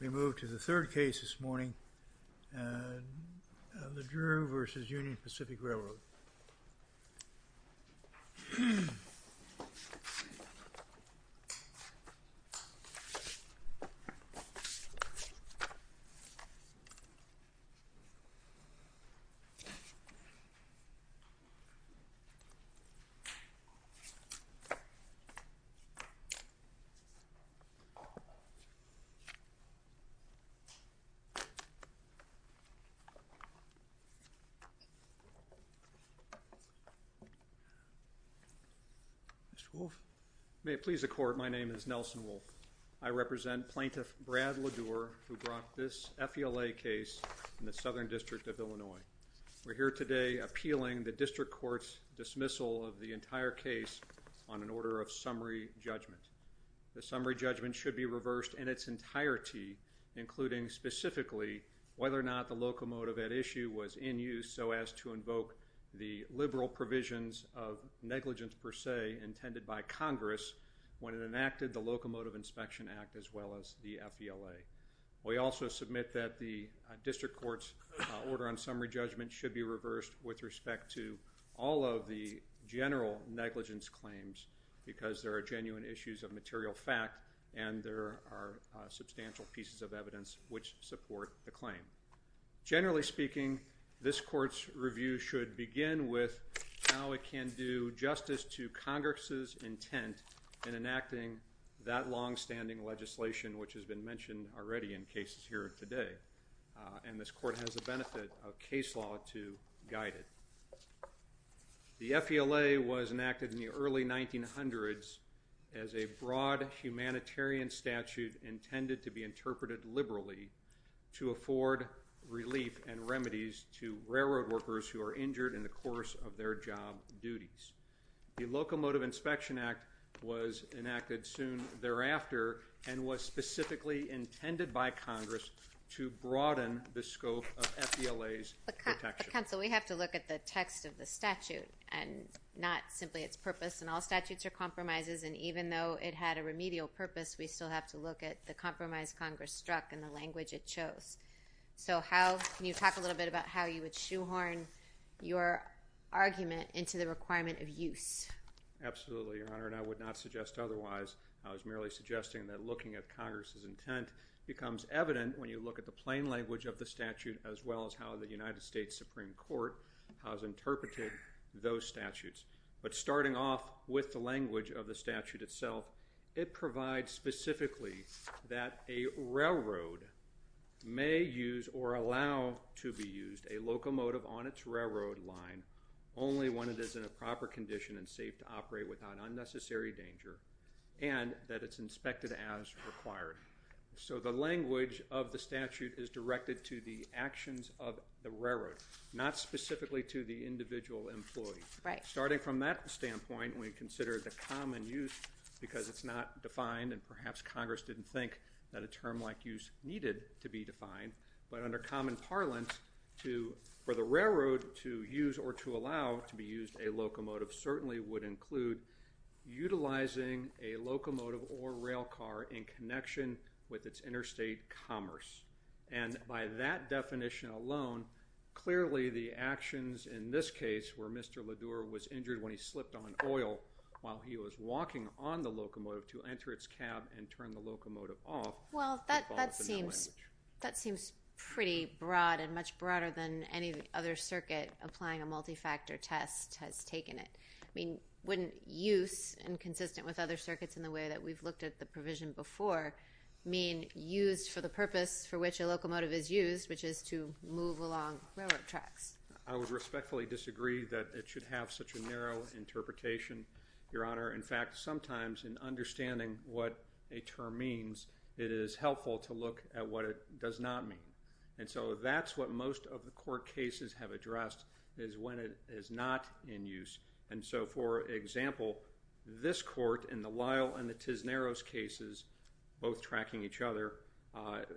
We move to the third case this morning, LeDure v. Union Pacific Railroad. Mr. Wolfe, may it please the Court, my name is Nelson Wolfe. I represent Plaintiff Brad LeDure who brought this FELA case in the Southern District of Illinois. We're here today appealing the District Court's dismissal of the entire case on an order of summary judgment. The summary judgment should be reversed in its entirety, including specifically whether or not the locomotive at issue was in use so as to invoke the liberal provisions of negligence per se intended by Congress when it enacted the Locomotive Inspection Act as well as the FELA. We also submit that the District Court's order on summary judgment should be reversed with respect to all of the general negligence claims because there are genuine issues of material fact and there are substantial pieces of evidence which support the claim. Generally speaking, this Court's review should begin with how it can do justice to Congress's intent in enacting that long-standing legislation which has been mentioned already in cases here today and this Court has the benefit of case law to guide it. The FELA was enacted in the early 1900s as a broad humanitarian statute intended to be interpreted liberally to afford relief and remedies to railroad workers who are injured in the course of their job duties. The Locomotive Inspection Act was enacted soon thereafter and was specifically intended by Congress to broaden the scope of FELA's protection. But Counsel, we have to look at the text of the statute and not simply its purpose and all statutes are compromises and even though it had a remedial purpose, we still have to look at the compromise Congress struck and the language it chose. So how, can you talk a little bit about how you would shoehorn your argument into the requirement of use? Absolutely, Your Honor, and I would not suggest otherwise. I was merely suggesting that looking at Congress's intent becomes evident when you look at the plain language of the statute as well as how the United States Supreme Court has interpreted those statutes. But starting off with the language of the statute itself, it provides specifically that a railroad may use or allow to be used a locomotive on its railroad line only when it is in a condition and that it's inspected as required. So the language of the statute is directed to the actions of the railroad, not specifically to the individual employee. Starting from that standpoint, we consider the common use because it's not defined and perhaps Congress didn't think that a term like use needed to be defined. But under common parlance, for the railroad to use or to allow to be used a locomotive certainly would include utilizing a locomotive or railcar in connection with its interstate commerce. And by that definition alone, clearly the actions in this case where Mr. LaDure was injured when he slipped on oil while he was walking on the locomotive to enter its cab and turn the locomotive off. Well, that seems pretty broad and much broader than any other circuit applying a multi-factor test has taken it. I mean, wouldn't use and consistent with other circuits in the way that we've looked at the provision before mean used for the purpose for which a locomotive is used, which is to move along railroad tracks? I would respectfully disagree that it should have such a narrow interpretation, Your Honor. In fact, sometimes in understanding what a term means, it is helpful to look at what it does not mean. And so that's what most of the court cases have addressed is when it is not in use. And so, for example, this court in the Lyle and the Tisneros cases, both tracking each other,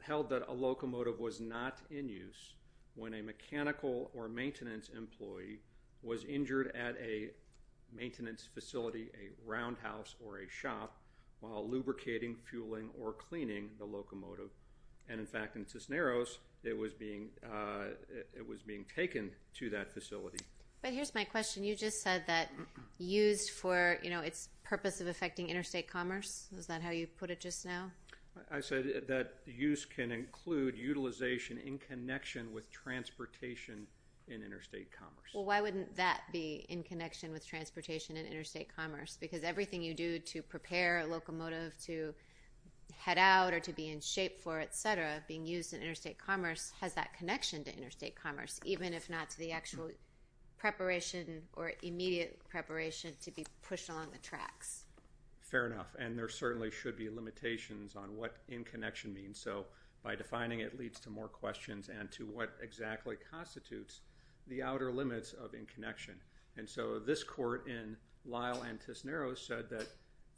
held that a locomotive was not in use when a mechanical or maintenance employee was injured at a maintenance facility, a roundhouse, or a shop while lubricating, fueling, or cleaning the locomotive. And in fact, in Tisneros, it was being taken to that facility. But here's my question. You just said that used for its purpose of affecting interstate commerce. Is that how you put it just now? I said that use can include utilization in connection with transportation in interstate commerce. Well, why wouldn't that be in connection with transportation in interstate commerce? Because everything you do to prepare a locomotive to head out or to be in shape for, etc., being used in interstate commerce has that connection to interstate commerce, even if not to the actual preparation or immediate preparation to be pushed along the tracks. Fair enough. And there certainly should be limitations on what in connection means. So by defining it leads to more questions and to what exactly constitutes the outer limits of in connection. And so this court in Lyle and Tisneros said that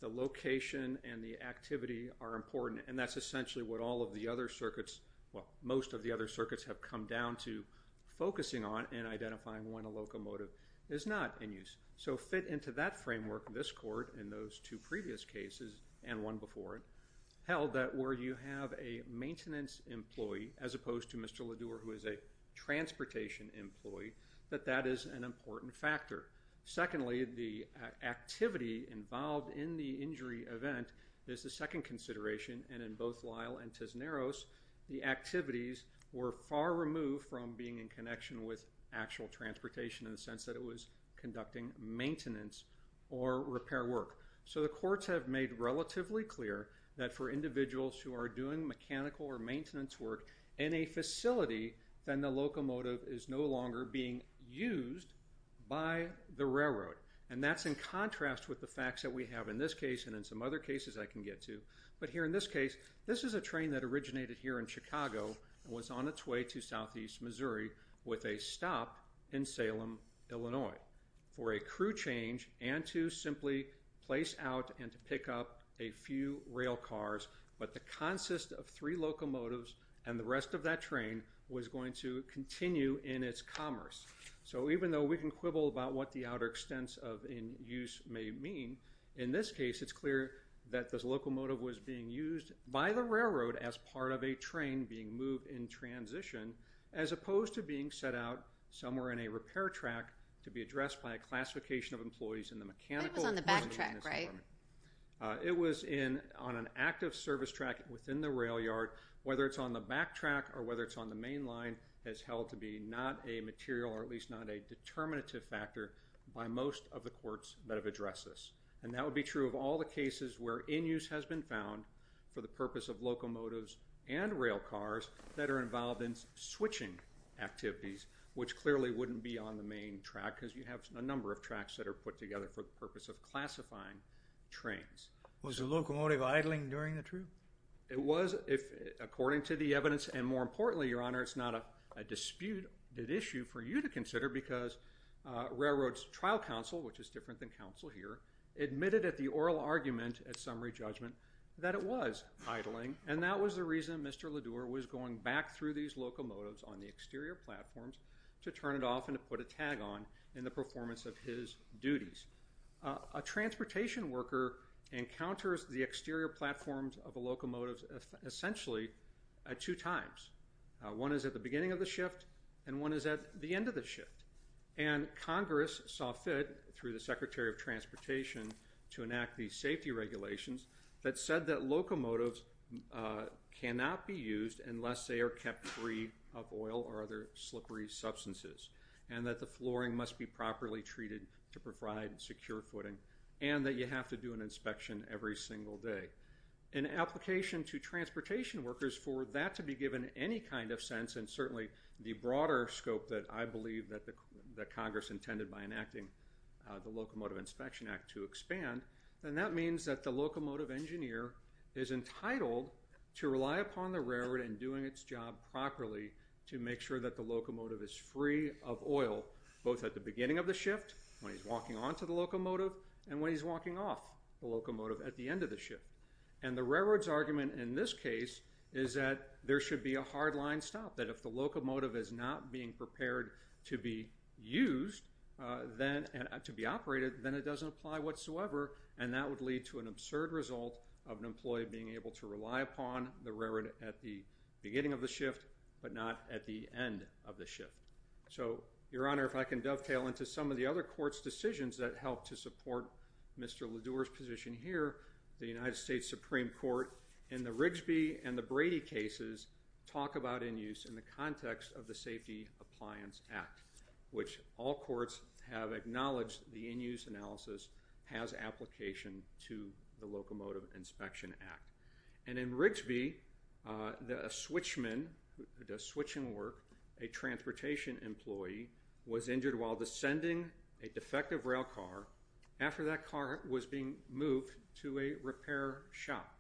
the location and the activity are important. And that's essentially what all of the other circuits, well, most of the other circuits have come down to focusing on and identifying when a locomotive is not in use. So fit into that framework, this court in those two previous cases, and one before it, held that where you have a maintenance employee, as opposed to Mr. Ledour, who is a transportation employee, that that is an important factor. Secondly, the activity involved in the injury event is the second consideration. And in both Lyle and Tisneros, the activities were far removed from being in connection with actual transportation in the sense that it was conducting maintenance or repair work. So the courts have made relatively clear that for individuals who are doing mechanical or electrical work, that is no longer being used by the railroad. And that's in contrast with the facts that we have in this case and in some other cases I can get to. But here in this case, this is a train that originated here in Chicago and was on its way to southeast Missouri with a stop in Salem, Illinois, for a crew change and to simply place out and to pick up a few rail cars. But the consist of three locomotives and the rest of that train was going to continue in its commerce. So even though we can quibble about what the outer extents of in use may mean, in this case it's clear that this locomotive was being used by the railroad as part of a train being moved in transition, as opposed to being set out somewhere in a repair track to be addressed by a classification of employees in the mechanical department. It was on an active service track within the rail yard. Whether it's on the back track or whether it's on the main line has held to be not a material or at least not a determinative factor by most of the courts that have addressed this. And that would be true of all the cases where in use has been found for the purpose of locomotives and rail cars that are involved in switching activities, which clearly wouldn't be on the main track because you have a number of tracks that are put together for the purpose of classifying trains. Was the locomotive idling during the trip? It was, according to the evidence, and more importantly, Your Honor, it's not a disputed issue for you to consider because Railroad's trial counsel, which is different than counsel here, admitted at the oral argument at summary judgment that it was idling and that was the reason Mr. Ledour was going back through these locomotives on the exterior platforms to turn it off and to put a tag on in the performance of his duties. A transportation worker encounters the exterior platforms of a locomotive essentially two times. One is at the beginning of the shift and one is at the end of the shift. And Congress saw fit through the Secretary of Transportation to enact these safety regulations that said that locomotives cannot be used unless they are kept free of oil or other modified, secure footing, and that you have to do an inspection every single day. An application to transportation workers for that to be given any kind of sense, and certainly the broader scope that I believe that Congress intended by enacting the Locomotive Inspection Act to expand, then that means that the locomotive engineer is entitled to rely upon the railroad in doing its job properly to make sure that the locomotive is free of oil, both at the front of the locomotive and when he's walking off the locomotive at the end of the shift. And the railroad's argument in this case is that there should be a hard line stop, that if the locomotive is not being prepared to be used, to be operated, then it doesn't apply whatsoever and that would lead to an absurd result of an employee being able to rely upon the railroad at the beginning of the shift but not at the end of the shift. So, Your Honor, if I can dovetail into some of the other court's decisions that helped to support Mr. Ledour's position here, the United States Supreme Court in the Rigsby and the Brady cases talk about in-use in the context of the Safety Appliance Act, which all courts have acknowledged the in-use analysis has application to the Locomotive Inspection Act. And in Rigsby, a switchman who does switching work, a transportation employee, was injured while descending a defective rail car after that car was being moved to a repair shop.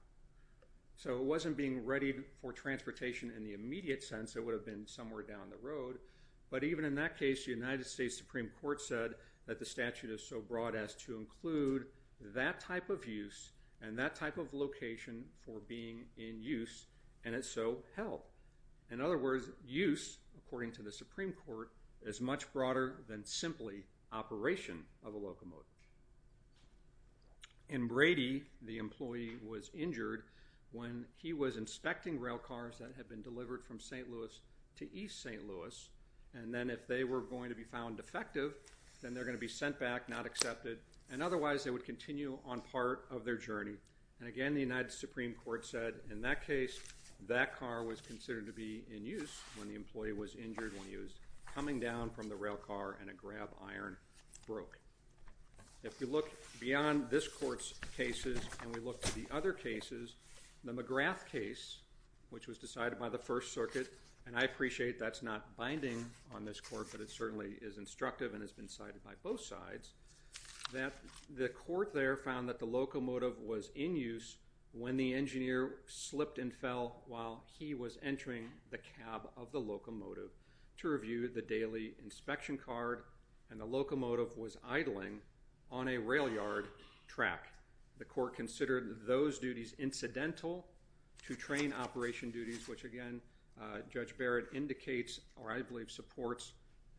So it wasn't being readied for transportation in the immediate sense, it would have been somewhere down the road, but even in that case, the United States Supreme Court said that the statute is so broad as to include that type of use and that type of location for being in use and it so helped. In other words, use, according to the Supreme Court, is much broader than simply operation of a locomotive. In Brady, the employee was injured when he was inspecting rail cars that had been delivered from St. Louis to East St. Louis and then if they were going to be found defective, then they're going to be sent back, not accepted, and otherwise they would continue on part of their journey. And again, the United States Supreme Court said in that case, that car was considered to be in use when the employee was injured when he was coming down from the rail car and a grab iron broke. If we look beyond this court's cases and we look to the other cases, the McGrath case, which was decided by the First Circuit, and I appreciate that's not binding on this court, but it certainly is instructive and has been decided by both sides, that the court there found that the locomotive was in use when the engineer slipped and fell while he was entering the cab of the locomotive to review the daily inspection card and the locomotive was idling on a rail yard track. The court considered those duties incidental to train operation duties, which again, Judge supports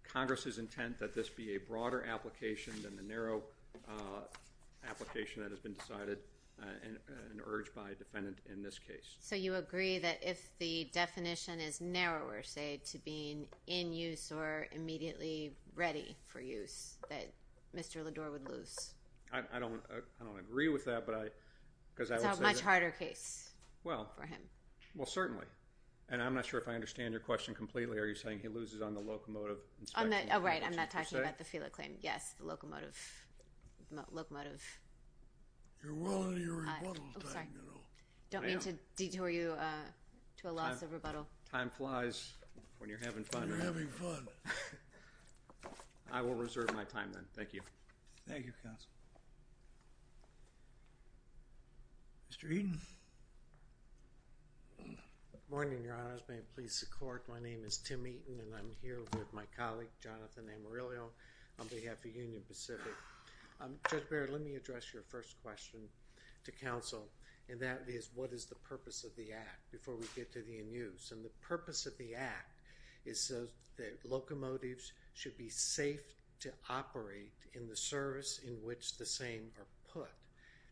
Congress's intent that this be a broader application than the narrow application that has been decided and urged by a defendant in this case. So you agree that if the definition is narrower, say, to being in use or immediately ready for use, that Mr. LeDore would lose? I don't agree with that, but I... It's a much harder case for him. Well, certainly. And I'm not sure if I understand your question completely. Are you saying he loses on the locomotive inspection? On the... Oh, right. I'm not talking about the FELA claim. Yes. The locomotive... The locomotive... You're well into your rebuttal time, you know. I'm sorry. I don't mean to detour you to a loss of rebuttal. Time flies when you're having fun. When you're having fun. I will reserve my time, then. Thank you. Good morning, Your Honors. May it please the court. My name is Tim Eaton. I'm the attorney general of the Federal District. My name is Tim Eaton, and I'm here with my colleague, Jonathan Amarillo, on behalf of Union Pacific. Judge Barrett, let me address your first question to counsel, and that is, what is the purpose of the Act, before we get to the in-use? And the purpose of the Act is so that locomotives should be safe to operate in the service in which the same are put,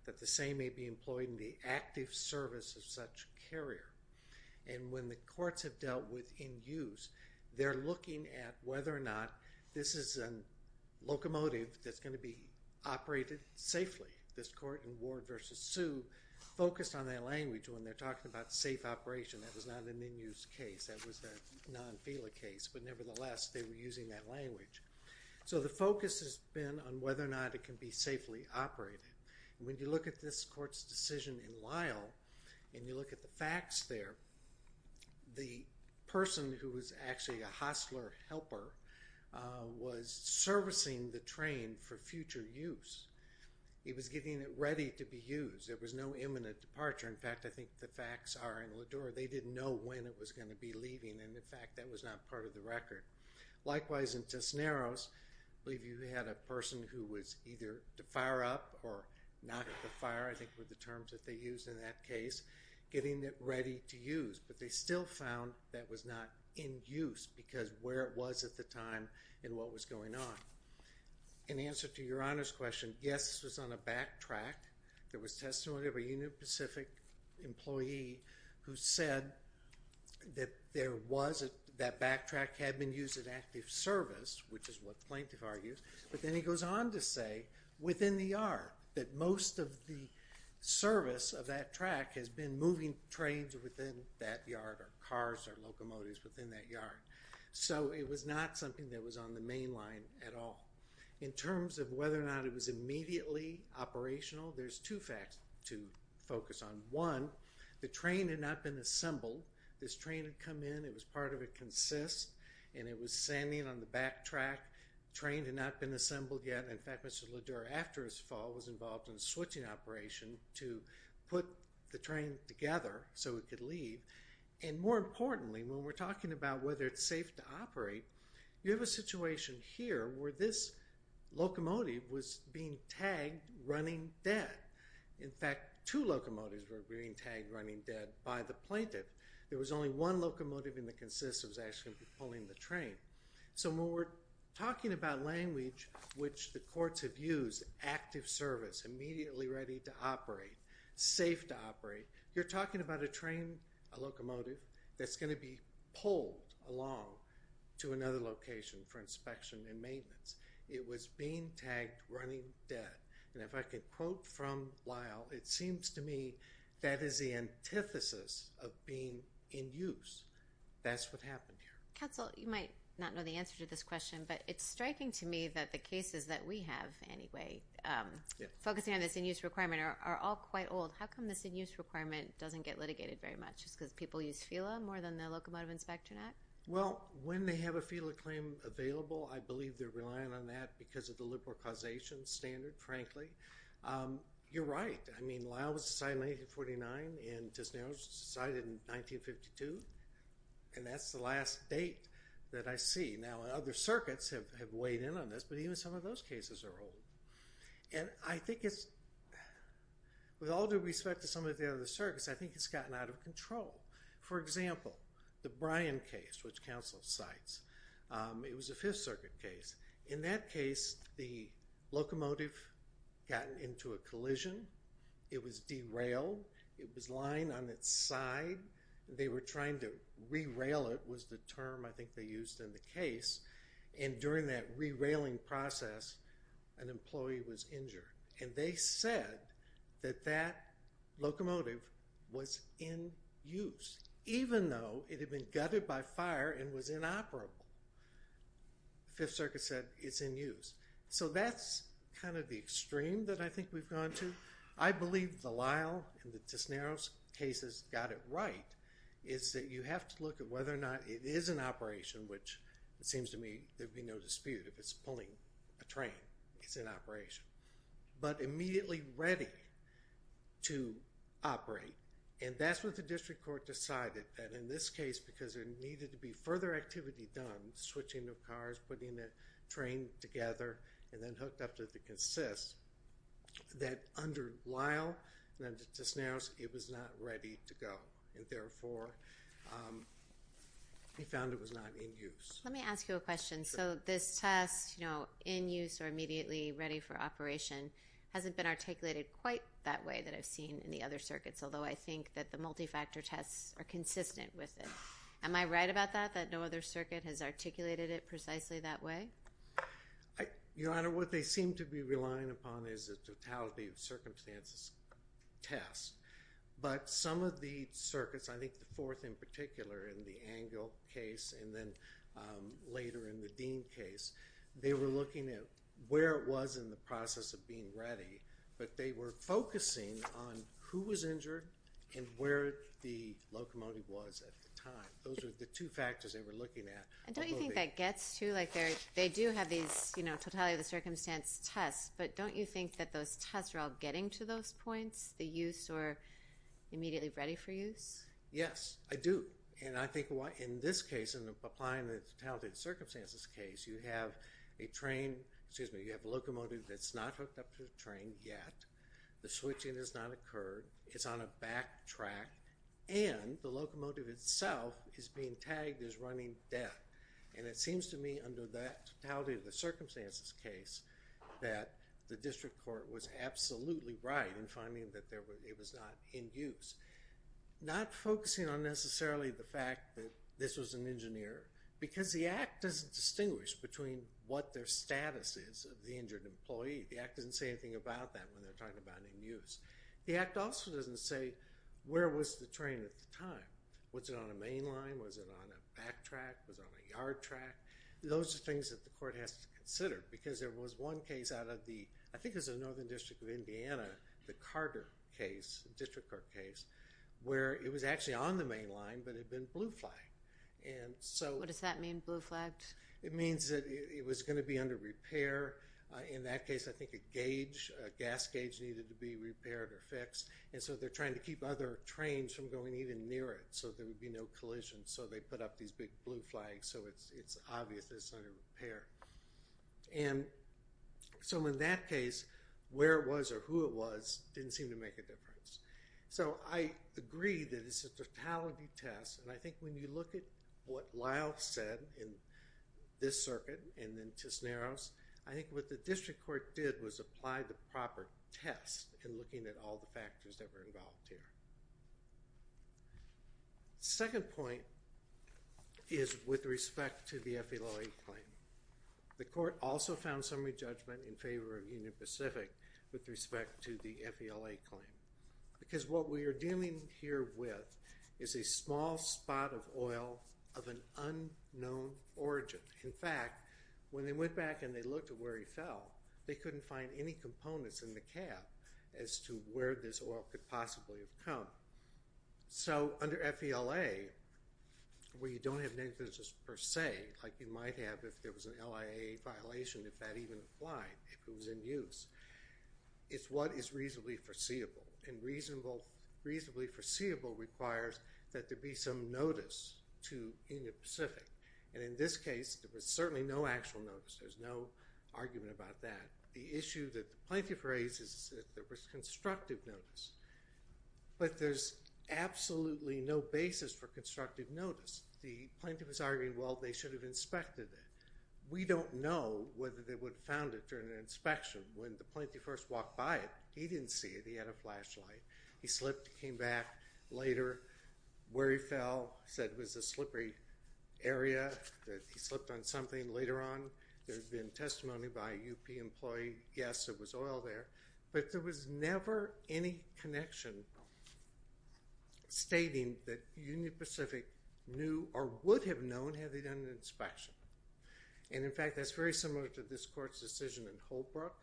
that the same may be employed in the active service of such carrier. And when the courts have dealt with in-use, they're looking at whether or not this is a locomotive that's going to be operated safely. This court in Ward v. Sioux focused on that language when they're talking about safe operation. That was not an in-use case. That was a non-FELA case, but nevertheless, they were using that language. So the focus has been on whether or not it can be safely operated. When you look at this court's decision in Lyle, and you look at the facts there, the person who was actually a hostler helper was servicing the train for future use. He was getting it ready to be used. There was no imminent departure. In fact, I think the facts are in Lador, they didn't know when it was going to be leaving, and in fact, that was not part of the record. Likewise in Tisneros, I believe you had a person who was either to fire up or not at the fire, I think were the terms that they used in that case, getting it ready to use. But they still found that was not in use because where it was at the time and what was going on. In answer to your Honor's question, yes, this was on a backtrack. There was testimony of a Union Pacific employee who said that there was, that backtrack had been used at active service, which is what the plaintiff argues, but then he goes on to say within the yard, that most of the service of that track has been moving trains within that yard or cars or locomotives within that yard. So it was not something that was on the main line at all. In terms of whether or not it was immediately operational, there's two facts to focus on. One, the train had not been assembled. This train had come in. It was part of a consist, and it was standing on the backtrack. Train had not been assembled yet. In fact, Mr. Ledour, after his fall, was involved in a switching operation to put the train together so it could leave. And more importantly, when we're talking about whether it's safe to operate, you have a situation here where this locomotive was being tagged running dead. In fact, two locomotives were being tagged running dead by the plaintiff. There was only one locomotive in the consist that was actually pulling the train. So when we're talking about language, which the courts have used, active service, immediately ready to operate, safe to operate, you're talking about a train, a locomotive, that's going to be pulled along to another location for inspection and maintenance. It was being tagged running dead, and if I could quote from Lyle, it seems to me that that is the antithesis of being in use. That's what happened here. Counsel, you might not know the answer to this question, but it's striking to me that the cases that we have, anyway, focusing on this in-use requirement, are all quite old. How come this in-use requirement doesn't get litigated very much? Is it because people use FELA more than the Locomotive Inspector Act? Well, when they have a FELA claim available, I believe they're relying on that because of the liberal causation standard, frankly. You're right. I mean, Lyle was decided in 1949, and Tisneros was decided in 1952, and that's the last date that I see. Now, other circuits have weighed in on this, but even some of those cases are old. And I think it's, with all due respect to some of the other circuits, I think it's gotten out of control. For example, the Bryan case, which counsel cites, it was a Fifth Circuit case. In that case, the locomotive got into a collision. It was derailed. It was lying on its side. They were trying to re-rail it, was the term I think they used in the case, and during that re-railing process, an employee was injured. And they said that that locomotive was in use, even though it had been gutted by fire and was inoperable. The Fifth Circuit said it's in use. So that's kind of the extreme that I think we've gone to. I believe the Lyle and the Tisneros cases got it right, is that you have to look at whether or not it is in operation, which it seems to me there'd be no dispute if it's pulling a train, it's in operation, but immediately ready to operate. And that's what the district court decided, that in this case, because there needed to be further activity done, switching of cars, putting the train together, and then hooked up to the consist, that under Lyle and under Tisneros, it was not ready to go, and therefore they found it was not in use. Let me ask you a question. So this test, in use or immediately ready for operation, hasn't been articulated quite that way that I've seen in the other circuits, although I think that the multi-factor tests are consistent with it. Am I right about that, that no other circuit has articulated it precisely that way? Your Honor, what they seem to be relying upon is a totality of circumstances test. But some of the circuits, I think the fourth in particular in the Angle case and then later in the Dean case, they were looking at where it was in the process of being ready, but they were focusing on who was injured and where the locomotive was at the time. Those were the two factors they were looking at. And don't you think that gets to, like, they do have these, you know, totality of the circumstance tests, but don't you think that those tests are all getting to those points, the use or immediately ready for use? Yes, I do. And I think in this case, in applying the totality of the circumstances case, you have a train, excuse me, you have a locomotive that's not hooked up to a train yet, the switching has not occurred, it's on a back track, and the locomotive itself is being tagged as running dead. And it seems to me under that totality of the circumstances case that the district court was absolutely right in finding that it was not in use. Not focusing on necessarily the fact that this was an engineer, because the act doesn't distinguish between what their status is of the injured employee. The act doesn't say anything about that when they're talking about in use. The act also doesn't say where was the train at the time. Was it on a main line, was it on a back track, was it on a yard track? Those are things that the court has to consider, because there was one case out of the, I think it was the Northern District of Indiana, the Carter case, district court case, where it was actually on the main line, but it had been blue flagged. And so- It means that it was going to be under repair. In that case, I think a gauge, a gas gauge needed to be repaired or fixed, and so they're trying to keep other trains from going even near it, so there would be no collision. So they put up these big blue flags, so it's obvious that it's under repair. And so in that case, where it was or who it was didn't seem to make a difference. So I agree that it's a totality test, and I think when you look at what Lyle said in this circuit and then Tisneros, I think what the district court did was apply the proper test in looking at all the factors that were involved here. Second point is with respect to the FELA claim. The court also found summary judgment in favor of Union Pacific with respect to the FELA claim. Because what we are dealing here with is a small spot of oil of an unknown origin. In fact, when they went back and they looked at where he fell, they couldn't find any components in the cap as to where this oil could possibly have come. So under FELA, where you don't have negligence per se, like you might have if there was an LIAA violation, if that even applied, if it was in use, it's what is reasonably foreseeable. And reasonably foreseeable requires that there be some notice to Union Pacific. And in this case, there was certainly no actual notice. There's no argument about that. The issue that the plaintiff raises is that there was constructive notice. But there's absolutely no basis for constructive notice. The plaintiff was arguing, well, they should have inspected it. We don't know whether they would have found it during an inspection. When the plaintiff first walked by it, he didn't see it. He had a flashlight. He slipped, came back later. Where he fell, said it was a slippery area, that he slipped on something later on. There's been testimony by a UP employee. Yes, there was oil there. But there was never any connection stating that Union Pacific knew or would have known had they done an inspection. And in fact, that's very similar to this court's decision in Holbrook,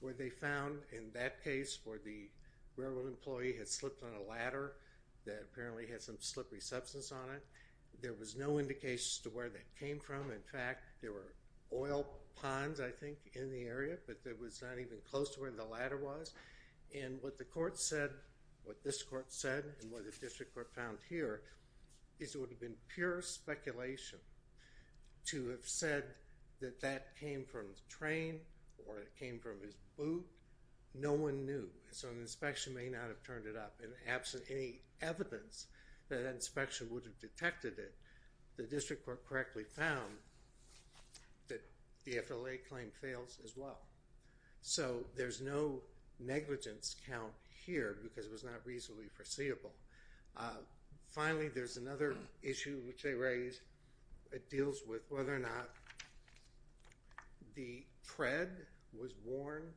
where they found in that case where the railroad employee had slipped on a ladder that apparently had some slippery substance on it, there was no indication as to where that came from. In fact, there were oil ponds, I think, in the area, but it was not even close to where the ladder was. And what the court said, what this court said, and what the district court found here, is it would have been pure speculation to have said that that came from the train or it came from his boot. No one knew. So an inspection may not have turned it up. And absent any evidence that that inspection would have detected it, the district court correctly found that the FLA claim fails as well. So there's no negligence count here because it was not reasonably foreseeable. Finally, there's another issue which they raised. It deals with whether or not the tread was worn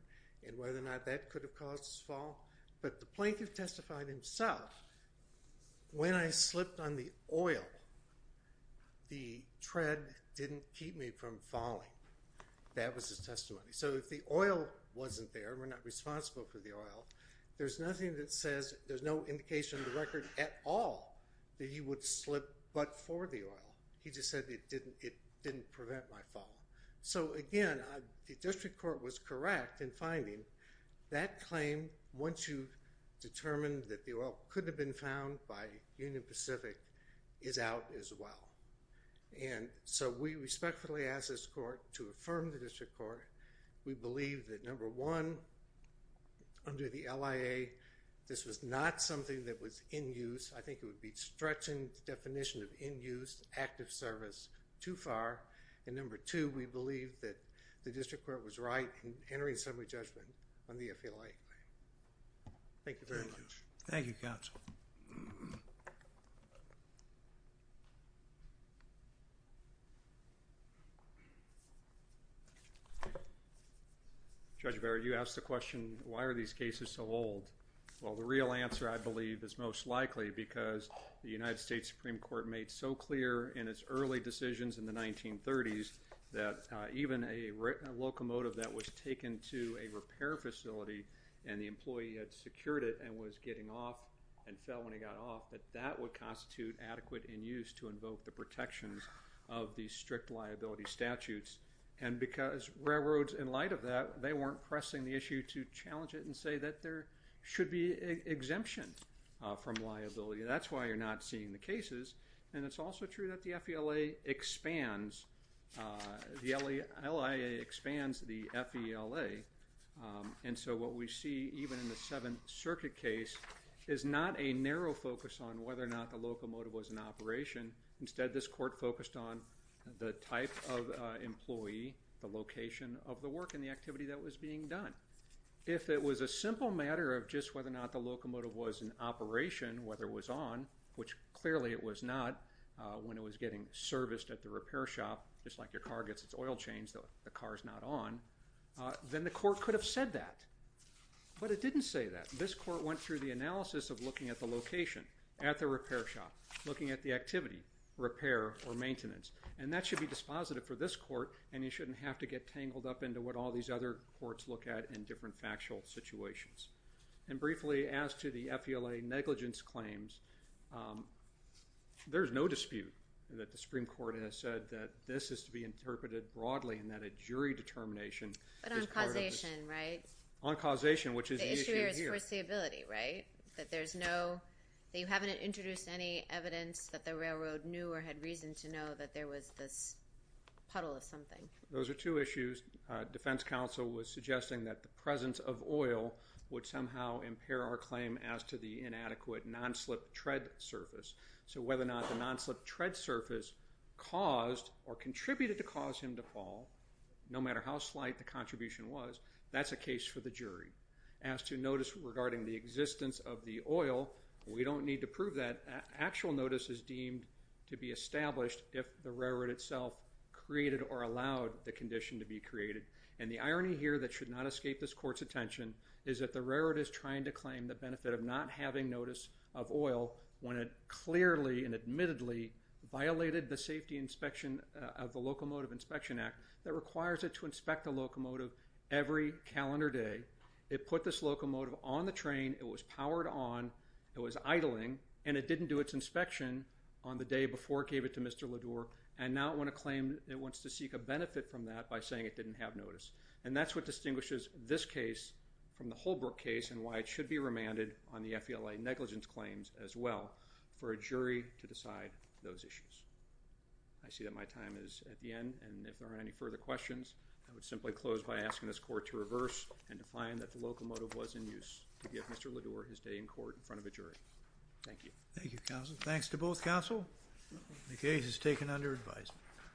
and whether or not that could have caused his fall. But the plaintiff testified himself, when I slipped on the oil, the tread didn't keep me from falling. That was his testimony. So if the oil wasn't there, we're not responsible for the oil, there's nothing that says, there's no indication in the record at all that he would slip but for the oil. He just said it didn't prevent my fall. So again, the district court was correct in finding that claim, once you've determined that the oil could have been found by Union Pacific, is out as well. And so we respectfully ask this court to affirm the district court. We believe that number one, under the LIA, this was not something that was in use. I think it would be stretching the definition of in use, active service, too far. And number two, we believe that the district court was right in entering a summary judgment on the FLA claim. Thank you very much. Thank you, counsel. Judge Barrett, you asked the question, why are these cases so old? Well, the real answer, I believe, is most likely because the United States Supreme Court made so clear in its early decisions in the 1930s that even a locomotive that was taken to a repair facility and the employee had secured it and was getting off and fell when he got off, that that would constitute adequate in use to invoke the protections of the strict liability statutes. And because railroads, in light of that, they weren't pressing the issue to challenge it and say that there should be exemption from liability. That's why you're not seeing the cases. And it's also true that the FLA expands, the LIA expands the FELA. And so what we see, even in the Seventh Circuit case, is not a narrow focus on whether or not the locomotive was in operation. Instead, this court focused on the type of employee, the location of the work and the activity that was being done. If it was a simple matter of just whether or not the locomotive was in operation, whether it was not, when it was getting serviced at the repair shop, just like your car gets its oil changed, the car's not on, then the court could have said that. But it didn't say that. This court went through the analysis of looking at the location, at the repair shop, looking at the activity, repair or maintenance. And that should be dispositive for this court and you shouldn't have to get tangled up into what all these other courts look at in different factual situations. And briefly, as to the FELA negligence claims, there's no dispute that the Supreme Court has said that this is to be interpreted broadly and that a jury determination is part of this. But on causation, right? On causation, which is the issue here. The issue here is foreseeability, right? That there's no, that you haven't introduced any evidence that the railroad knew or had reason to know that there was this puddle of something. Those are two issues. The defense counsel was suggesting that the presence of oil would somehow impair our claim as to the inadequate non-slip tread surface. So whether or not the non-slip tread surface caused or contributed to cause him to fall, no matter how slight the contribution was, that's a case for the jury. As to notice regarding the existence of the oil, we don't need to prove that. Actual notice is deemed to be established if the railroad itself created or allowed the condition to be created. And the irony here that should not escape this Court's attention is that the railroad is trying to claim the benefit of not having notice of oil when it clearly and admittedly violated the safety inspection of the Locomotive Inspection Act that requires it to inspect a locomotive every calendar day. It put this locomotive on the train, it was powered on, it was idling, and it didn't do its inspection on the day before it gave it to Mr. Ledour. And now it wants to seek a benefit from that by saying it didn't have notice. And that's what distinguishes this case from the Holbrook case and why it should be remanded on the FELA negligence claims as well for a jury to decide those issues. I see that my time is at the end, and if there aren't any further questions, I would simply close by asking this Court to reverse and to find that the locomotive was in use to give Mr. Ledour his day in court in front of a jury. Thank you. Thank you, counsel. Thanks to both counsel. The case is taken under advisement.